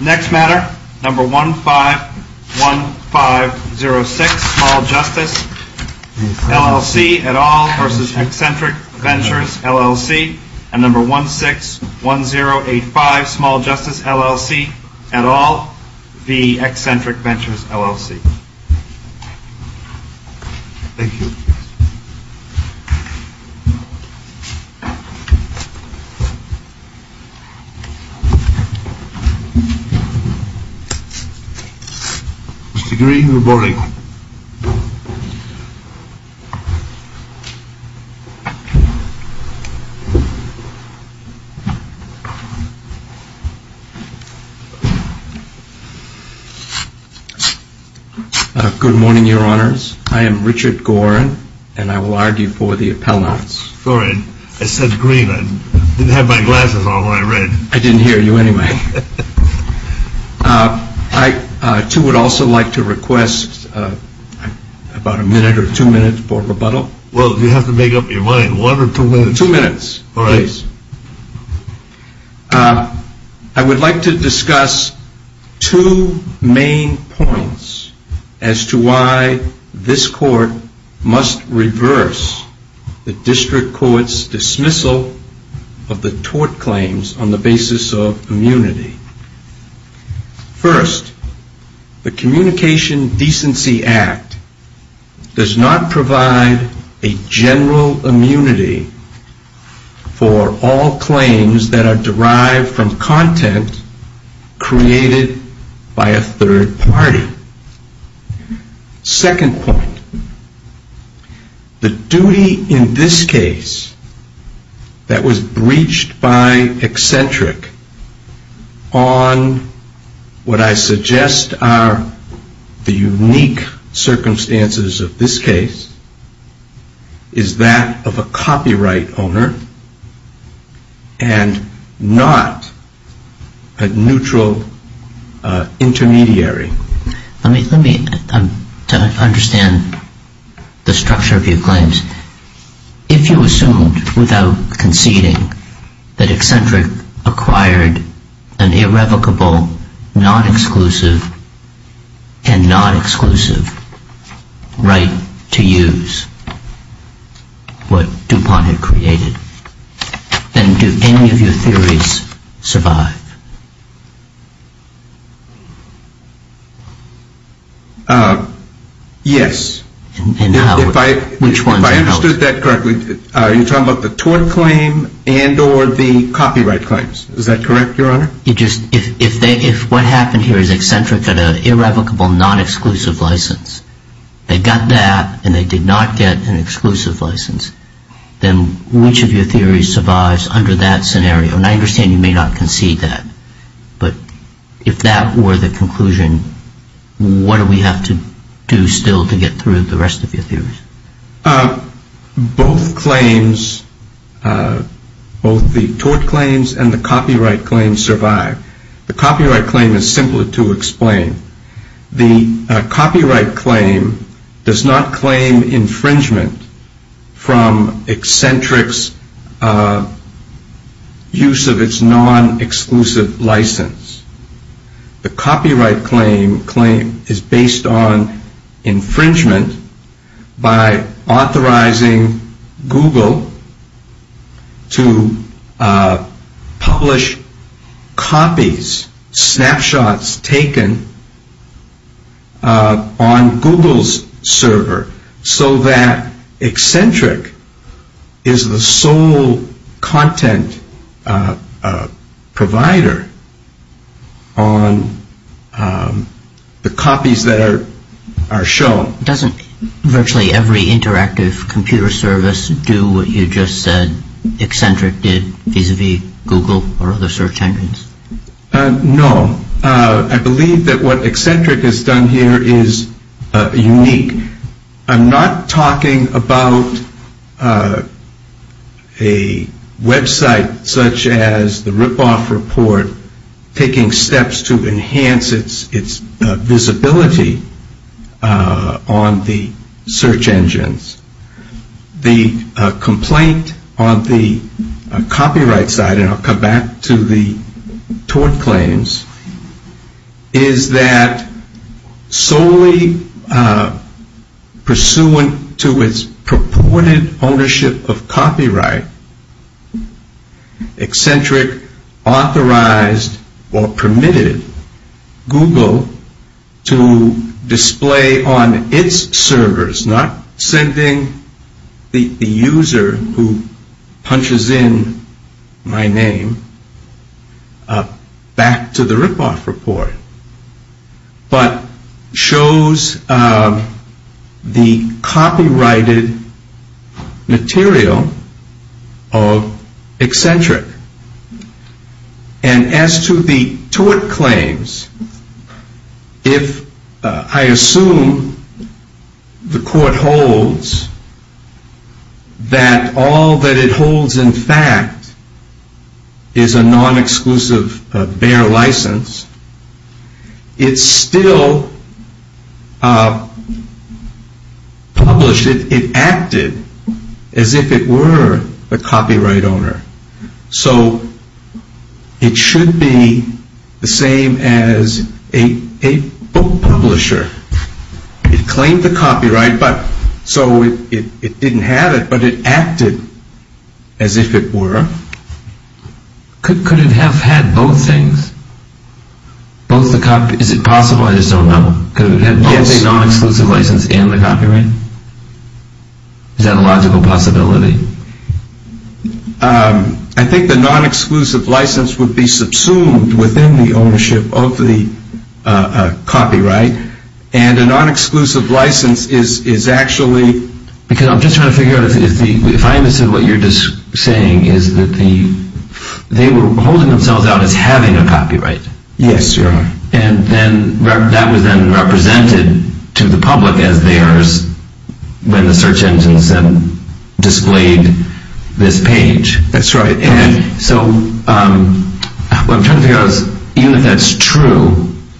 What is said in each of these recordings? Next matter, number 151506, Small Justice LLC et al. v. Xcentric Ventures LLC, and number 161085, Small Justice LLC et al. v. Xcentric Ventures LLC. Thank you. Mr. Green, good morning. Good morning, your honors. I am Richard Gorin, and I will argue for the appellants. Sorry, I said Green. I didn't have my glasses on when I read. I didn't hear you anyway. I too would also like to request about a minute or two minutes for rebuttal. Well, you have to make up your mind. One or two minutes? I would like to discuss two main points as to why this court must reverse the district court's dismissal of the tort claims on the basis of immunity. First, the Communication Decency Act does not provide a general immunity for all claims that are derived from content created by a third party. Second point, the duty in this case that was breached by Xcentric on what I suggest are the unique circumstances of this case is that of a copyright owner and not a neutral intermediary. Let me try to understand the structure of your claims. If you assumed without conceding that Xcentric acquired an irrevocable, non-exclusive, and non-exclusive right to use what DuPont had created, then do any of your theories survive? Yes. If I understood that correctly, you're talking about the tort claim and or the copyright claims. Is that correct, Your Honor? If what happened here is Xcentric had an irrevocable, non-exclusive license, they got that and they did not get an exclusive license, then which of your theories survives under that scenario? And I understand you may not concede that, but if that were the conclusion, what do we have to do still to get through the rest of your theories? Both claims, both the tort claims and the copyright claims survive. The copyright claim is simpler to explain. The copyright claim does not claim infringement from Xcentric's use of its non-exclusive license. The copyright claim is based on infringement by authorizing Google to publish copies, snapshots taken on Google's server so that Xcentric is the sole content provider. It is based on the copies that are shown. Doesn't virtually every interactive computer service do what you just said Xcentric did vis-a-vis Google or other search engines? No. I believe that what Xcentric has done here is unique. I'm not talking about a website such as the Ripoff Report taking steps to enhance its visibility on the search engines. The complaint on the copyright side, and I'll come back to the tort claims, is that solely pursuant to its purported ownership of copyright, Xcentric authorized or permitted Google to display on its servers, not sending the user who punches in my name back to the Ripoff Report, but shows the copyrighted material of Xcentric. And as to the tort claims, if I assume the court holds that all that it holds in fact is a non-exclusive, bare license, it's still published. But it acted as if it were a copyright owner. So it should be the same as a book publisher. It claimed the copyright, so it didn't have it, but it acted as if it were. Could it have had both things? Is it possible? I just don't know. Could it have had both a non-exclusive license and the copyright? Is that a logical possibility? I think the non-exclusive license would be subsumed within the ownership of the copyright, and a non-exclusive license is actually... Because I'm just trying to figure out, if I understood what you're just saying, is that they were holding themselves out as having a copyright. Yes, you're right. And that was then represented to the public as theirs when the search engines then displayed this page. That's right. And so what I'm trying to figure out is, even if that's true,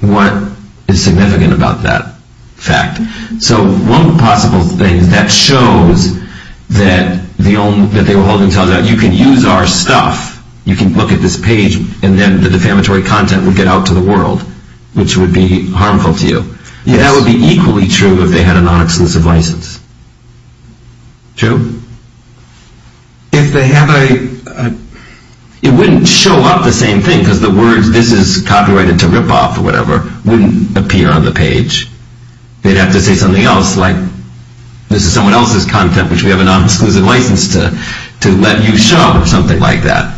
what is significant about that fact? So one possible thing is that shows that they were holding themselves out. You can use our stuff. You can look at this page, and then the defamatory content would get out to the world, which would be harmful to you. Yes. That would be equally true if they had a non-exclusive license. True. If they have a... It wouldn't show up the same thing, because the words, this is copyrighted to rip off, or whatever, wouldn't appear on the page. They'd have to say something else, like, this is someone else's content, which we have a non-exclusive license to let you show, or something like that.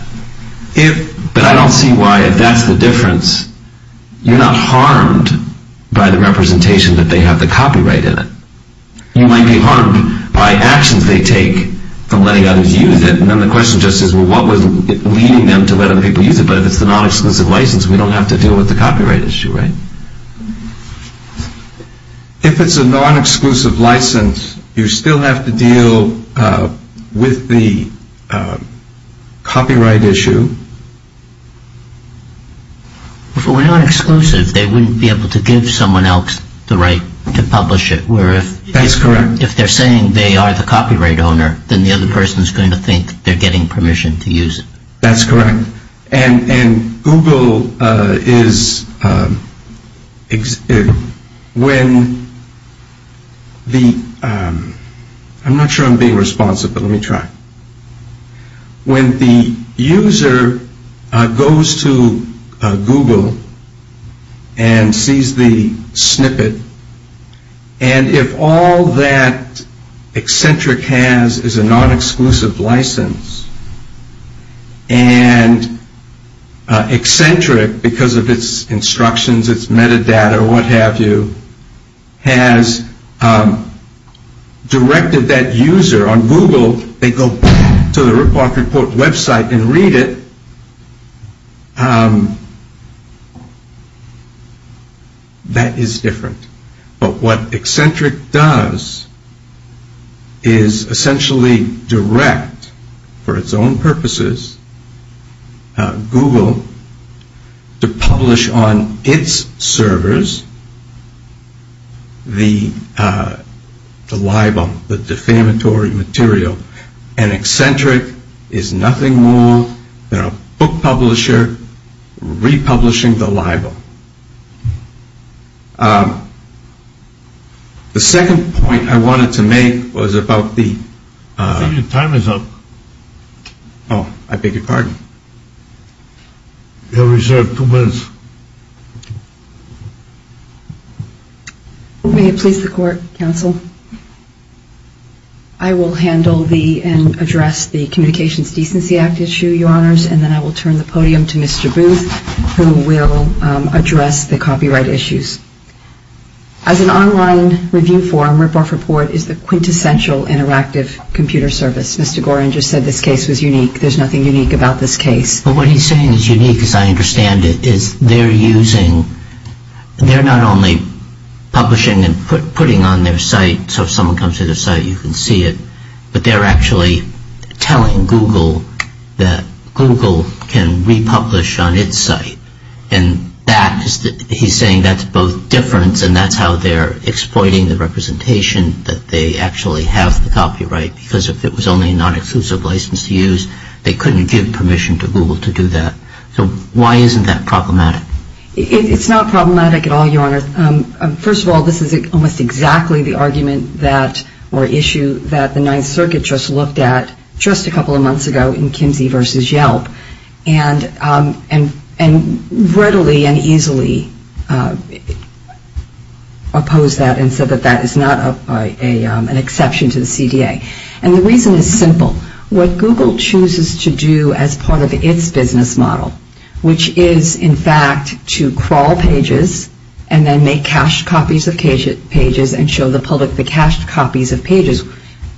But I don't see why, if that's the difference, you're not harmed by the representation that they have the copyright in it. You might be harmed by actions they take from letting others use it. And then the question just is, well, what was leading them to let other people use it? But if it's a non-exclusive license, we don't have to deal with the copyright issue, right? If it's a non-exclusive license, you still have to deal with the copyright issue. If it were non-exclusive, they wouldn't be able to give someone else the right to publish it, where if... That's correct. If they're saying they are the copyright owner, then the other person's going to think they're getting permission to use it. That's correct. And Google is... When the... I'm not sure I'm being responsive, but let me try. When the user goes to Google and sees the snippet, and if all that Eccentric has is a non-exclusive license, and Eccentric, because of its instructions, its metadata, or what have you, has directed that user on Google, they go back to the Ripoff Report website and read it, that is different. But what Eccentric does is essentially direct, for its own purposes, Google to publish on its servers the libel, the defamatory material. And Eccentric is nothing more than a book publisher republishing the libel. The second point I wanted to make was about the... I think your time is up. Oh, I beg your pardon. You have reserved two minutes. May it please the Court, Counsel? I will handle the and address the Communications Decency Act issue, Your Honors, and then I will turn the podium to Mr. Booth, who will address the copyright issues. As an online review forum, Ripoff Report is the quintessential interactive computer service. Mr. Gorin just said this case was unique. There's nothing unique about this case. But what he's saying is unique, as I understand it, is they're using... They're not only publishing and putting on their site, so if someone comes to their site, you can see it, but they're actually telling Google that Google can republish on its site. And he's saying that's both different, and that's how they're exploiting the representation that they actually have the copyright, because if it was only a non-exclusive license to use, they couldn't give permission to Google to do that. So why isn't that problematic? It's not problematic at all, Your Honor. First of all, this is almost exactly the argument that, or issue, that the Ninth Circuit just looked at just a couple of months ago in Kimsey v. Yelp, and readily and easily opposed that and said that that is not an exception to the CDA. And the reason is simple. What Google chooses to do as part of its business model, which is, in fact, to crawl pages and then make cached copies of pages and show the public the cached copies of pages,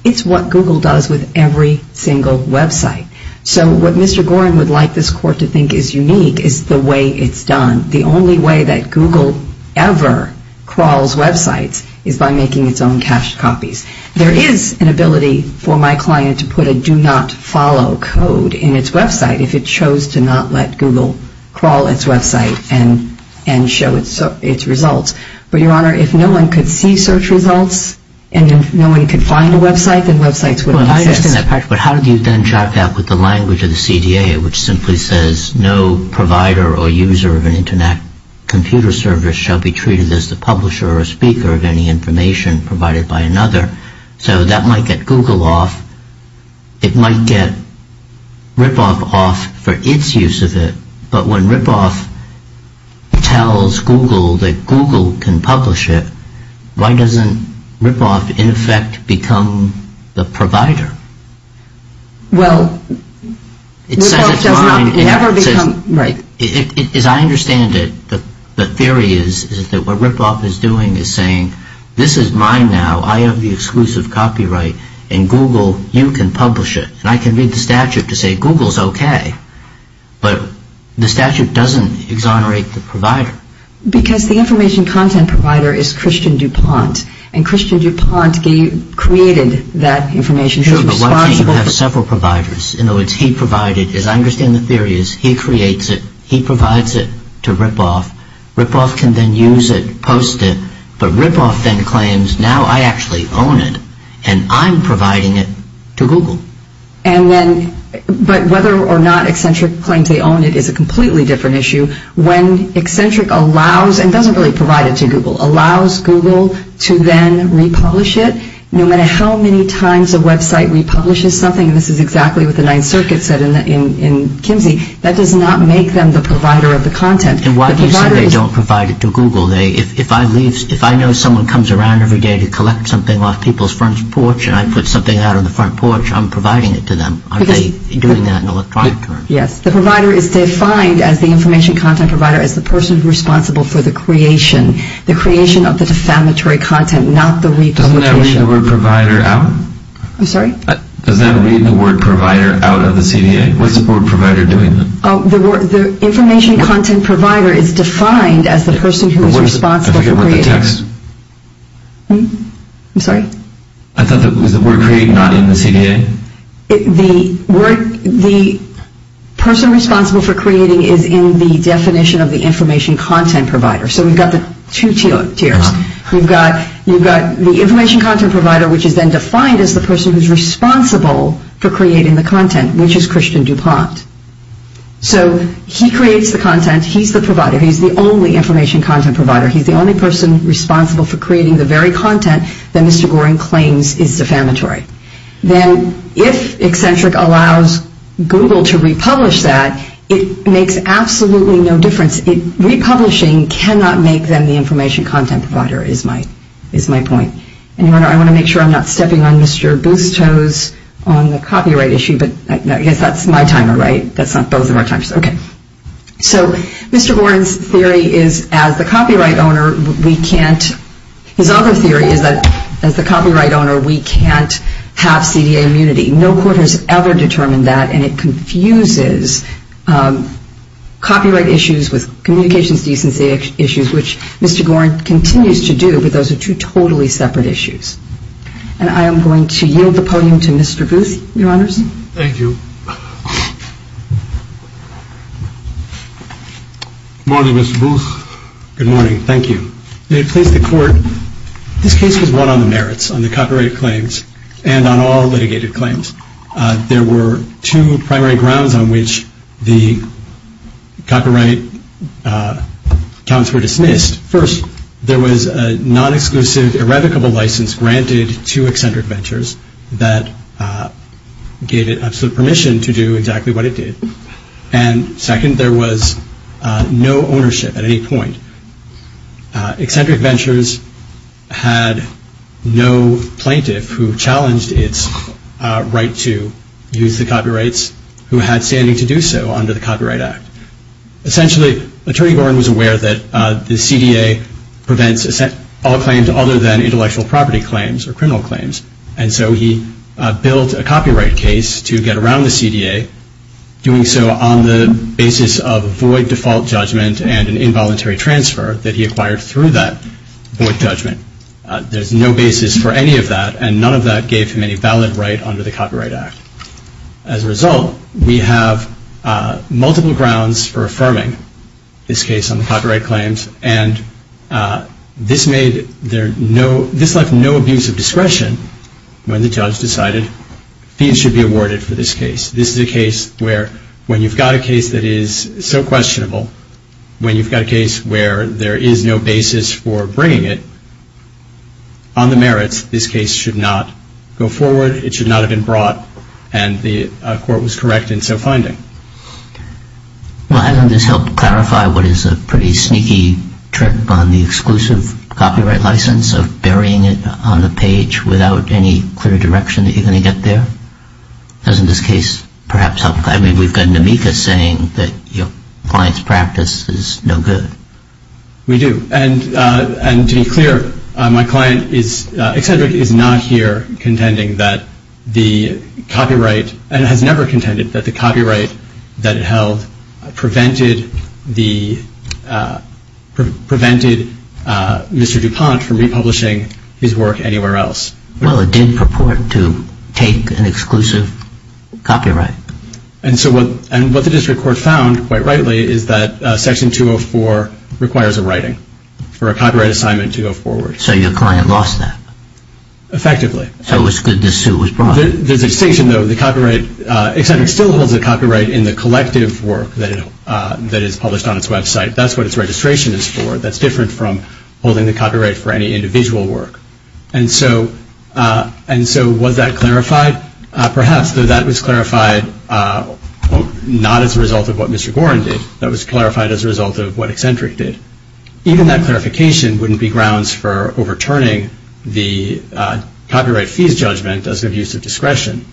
it's what Google does with every single website. So what Mr. Gorin would like this Court to think is unique is the way it's done. The only way that Google ever crawls websites is by making its own cached copies. There is an ability for my client to put a do not follow code in its website if it chose to not let Google crawl its website and show its results. But, Your Honor, if no one could see search results, and if no one could find a website, then websites wouldn't exist. But how do you then chart that with the language of the CDA, which simply says no provider or user of an Internet computer service shall be treated as the publisher or speaker of any information provided by another? So that might get Google off. It might get Ripoff off for its use of it. But when Ripoff tells Google that Google can publish it, why doesn't Ripoff, in effect, become the provider? Well, Ripoff does not ever become... As I understand it, the theory is that what Ripoff is doing is saying, this is mine now, I have the exclusive copyright, and Google, you can publish it. And I can read the statute to say Google's okay. But the statute doesn't exonerate the provider. Because the information content provider is Christian DuPont, and Christian DuPont created that information. Sure, but why can't you have several providers? In other words, he provided, as I understand the theory is, he creates it, he provides it to Ripoff, Ripoff can then use it, post it, but Ripoff then claims, now I actually own it, and I'm providing it to Google. But whether or not Eccentric claims they own it is a completely different issue. When Eccentric allows, and doesn't really provide it to Google, allows Google to then republish it, no matter how many times a website republishes something, and this is exactly what the Ninth Circuit said in Kimsey, that does not make them the provider of the content. And why do you say they don't provide it to Google? If I know someone comes around every day to collect something off people's front porch, and I put something out on the front porch, I'm providing it to them. Aren't they doing that in electronic terms? Yes. The provider is defined as the information content provider as the person responsible for the creation, the creation of the defamatory content, not the republication. Doesn't that read the word provider out? I'm sorry? Doesn't that read the word provider out of the CDA? What's the word provider doing then? The information content provider is defined as the person who is responsible for creating it. I forget what the text. I'm sorry? I thought that was the word create not in the CDA? The person responsible for creating is in the definition of the information content provider. So we've got the two tiers. We've got the information content provider, which is then defined as the person who is responsible for creating the content, which is Christian DuPont. So he creates the content. He's the provider. He's the only information content provider. He's the only person responsible for creating the very content that Mr. Goring claims is defamatory. Then if Eccentric allows Google to republish that, it makes absolutely no difference. Republishing cannot make them the information content provider is my point. I want to make sure I'm not stepping on Mr. Bustos on the copyright issue, but I guess that's my timer, right? That's not both of our timers. Okay. So Mr. Goring's theory is as the copyright owner, we can't. His other theory is that as the copyright owner, we can't have CDA immunity. No court has ever determined that, and it confuses copyright issues with communications decency issues, which Mr. Goring continues to do, but those are two totally separate issues. And I am going to yield the podium to Mr. Booth, Your Honors. Thank you. Good morning, Ms. Booth. Good morning. Thank you. May it please the Court, this case was won on the merits, on the copyright claims, and on all litigated claims. There were two primary grounds on which the copyright accounts were dismissed. First, there was a non-exclusive irrevocable license granted to Eccentric Ventures that gave it absolute permission to do exactly what it did. And second, there was no ownership at any point. Eccentric Ventures had no plaintiff who challenged its right to use the copyrights who had standing to do so under the Copyright Act. Essentially, Attorney Goring was aware that the CDA prevents all claims other than intellectual property claims or criminal claims, and so he built a copyright case to get around the CDA, doing so on the basis of a void default judgment and an involuntary transfer that he acquired through that void judgment. There's no basis for any of that, and none of that gave him any valid right under the Copyright Act. As a result, we have multiple grounds for affirming this case on the copyright claims, and this left no abuse of discretion when the judge decided fees should be awarded for this case. This is a case where, when you've got a case that is so questionable, when you've got a case where there is no basis for bringing it, on the merits, this case should not go forward, it should not have been brought, and the court was correct in so finding. Well, hasn't this helped clarify what is a pretty sneaky trick on the exclusive copyright license of burying it on the page without any clear direction that you're going to get there? Doesn't this case perhaps help? I mean, we've got Namika saying that your client's practice is no good. We do, and to be clear, my client is, Excedric is not here contending that the copyright, and has never contended that the copyright that it held prevented Mr. DuPont from republishing his work anywhere else. Well, it did purport to take an exclusive copyright. And so what the district court found, quite rightly, is that Section 204 requires a writing for a copyright assignment to go forward. So your client lost that. Effectively. So it was good this suit was brought. There's a distinction, though. Excedric still holds the copyright in the collective work that is published on its website. That's what its registration is for. That's different from holding the copyright for any individual work. And so was that clarified? Perhaps. That was clarified not as a result of what Mr. Gorin did. That was clarified as a result of what Excedric did. Even that clarification wouldn't be grounds for overturning the copyright fees judgment as an abuse of discretion.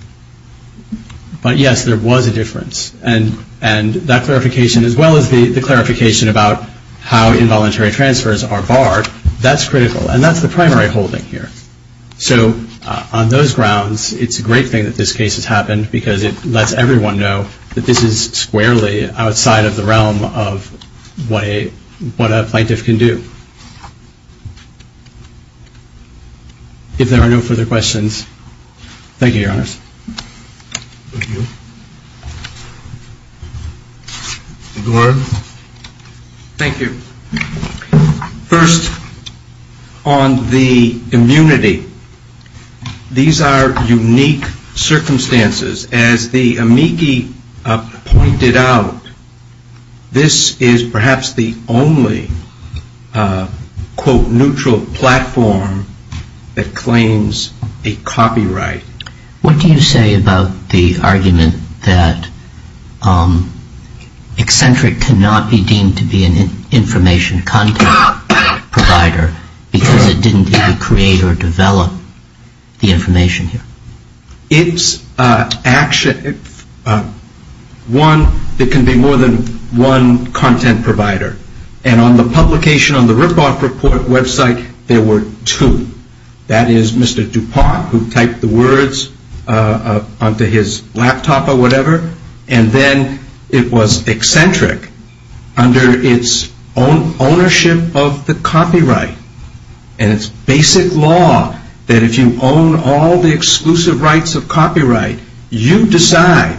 But, yes, there was a difference. And that clarification, as well as the clarification about how involuntary transfers are barred, that's critical. And that's the primary holding here. So on those grounds, it's a great thing that this case has happened because it lets everyone know that this is squarely outside of the realm of what a plaintiff can do. If there are no further questions. Thank you, Your Honor. Thank you. Mr. Gorin. Thank you. First, on the immunity, these are unique circumstances. As the amici pointed out, this is perhaps the only, quote, neutral platform that claims a copyright. What do you say about the argument that Excedric cannot be deemed to be an information content provider because it didn't either create or develop the information here? It's one that can be more than one content provider. And on the publication, on the ripoff report website, there were two. That is, Mr. DuPont, who typed the words onto his laptop or whatever, and then it was Excedric, under its own ownership of the copyright and its basic law that if you own all the exclusive rights of copyright, you decide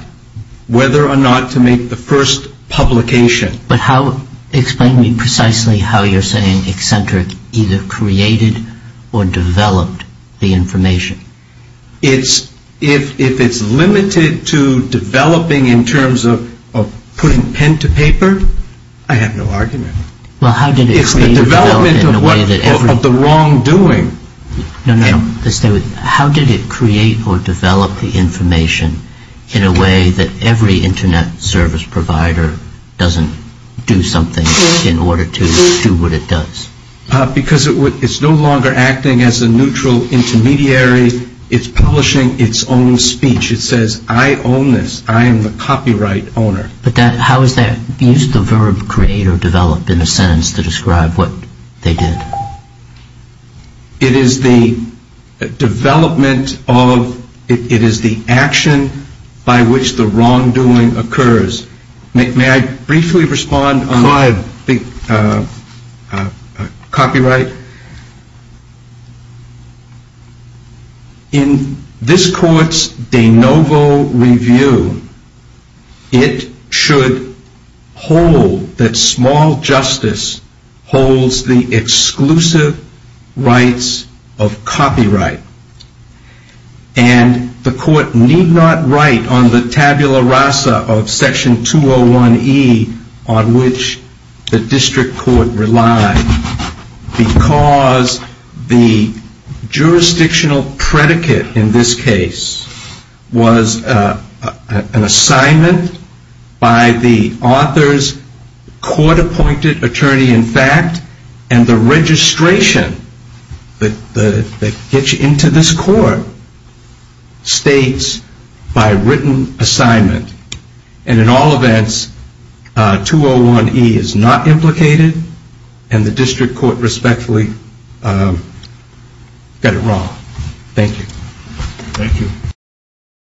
whether or not to make the first publication. But explain to me precisely how you're saying Excedric either created or developed the information. If it's limited to developing in terms of putting pen to paper, I have no argument. It's the development of the wrongdoing. No, no, no. How did it create or develop the information in a way that every Internet service provider doesn't do something in order to do what it does? Because it's no longer acting as a neutral intermediary. It's publishing its own speech. It says, I own this. I am the copyright owner. But how is that use of the verb create or develop in a sentence to describe what they did? It is the development of, it is the action by which the wrongdoing occurs. May I briefly respond on copyright? In this court's de novo review, it should hold that small justice holds the exclusive rights of copyright. And the court need not write on the tabula rasa of section 201E on which the district court relies because the jurisdictional predicate in this case was an assignment by the author's court appointed attorney in fact and the registration that gets you into this court states by written assignment. And in all events, 201E is not implicated and the district court respectfully got it wrong. Thank you. Thank you.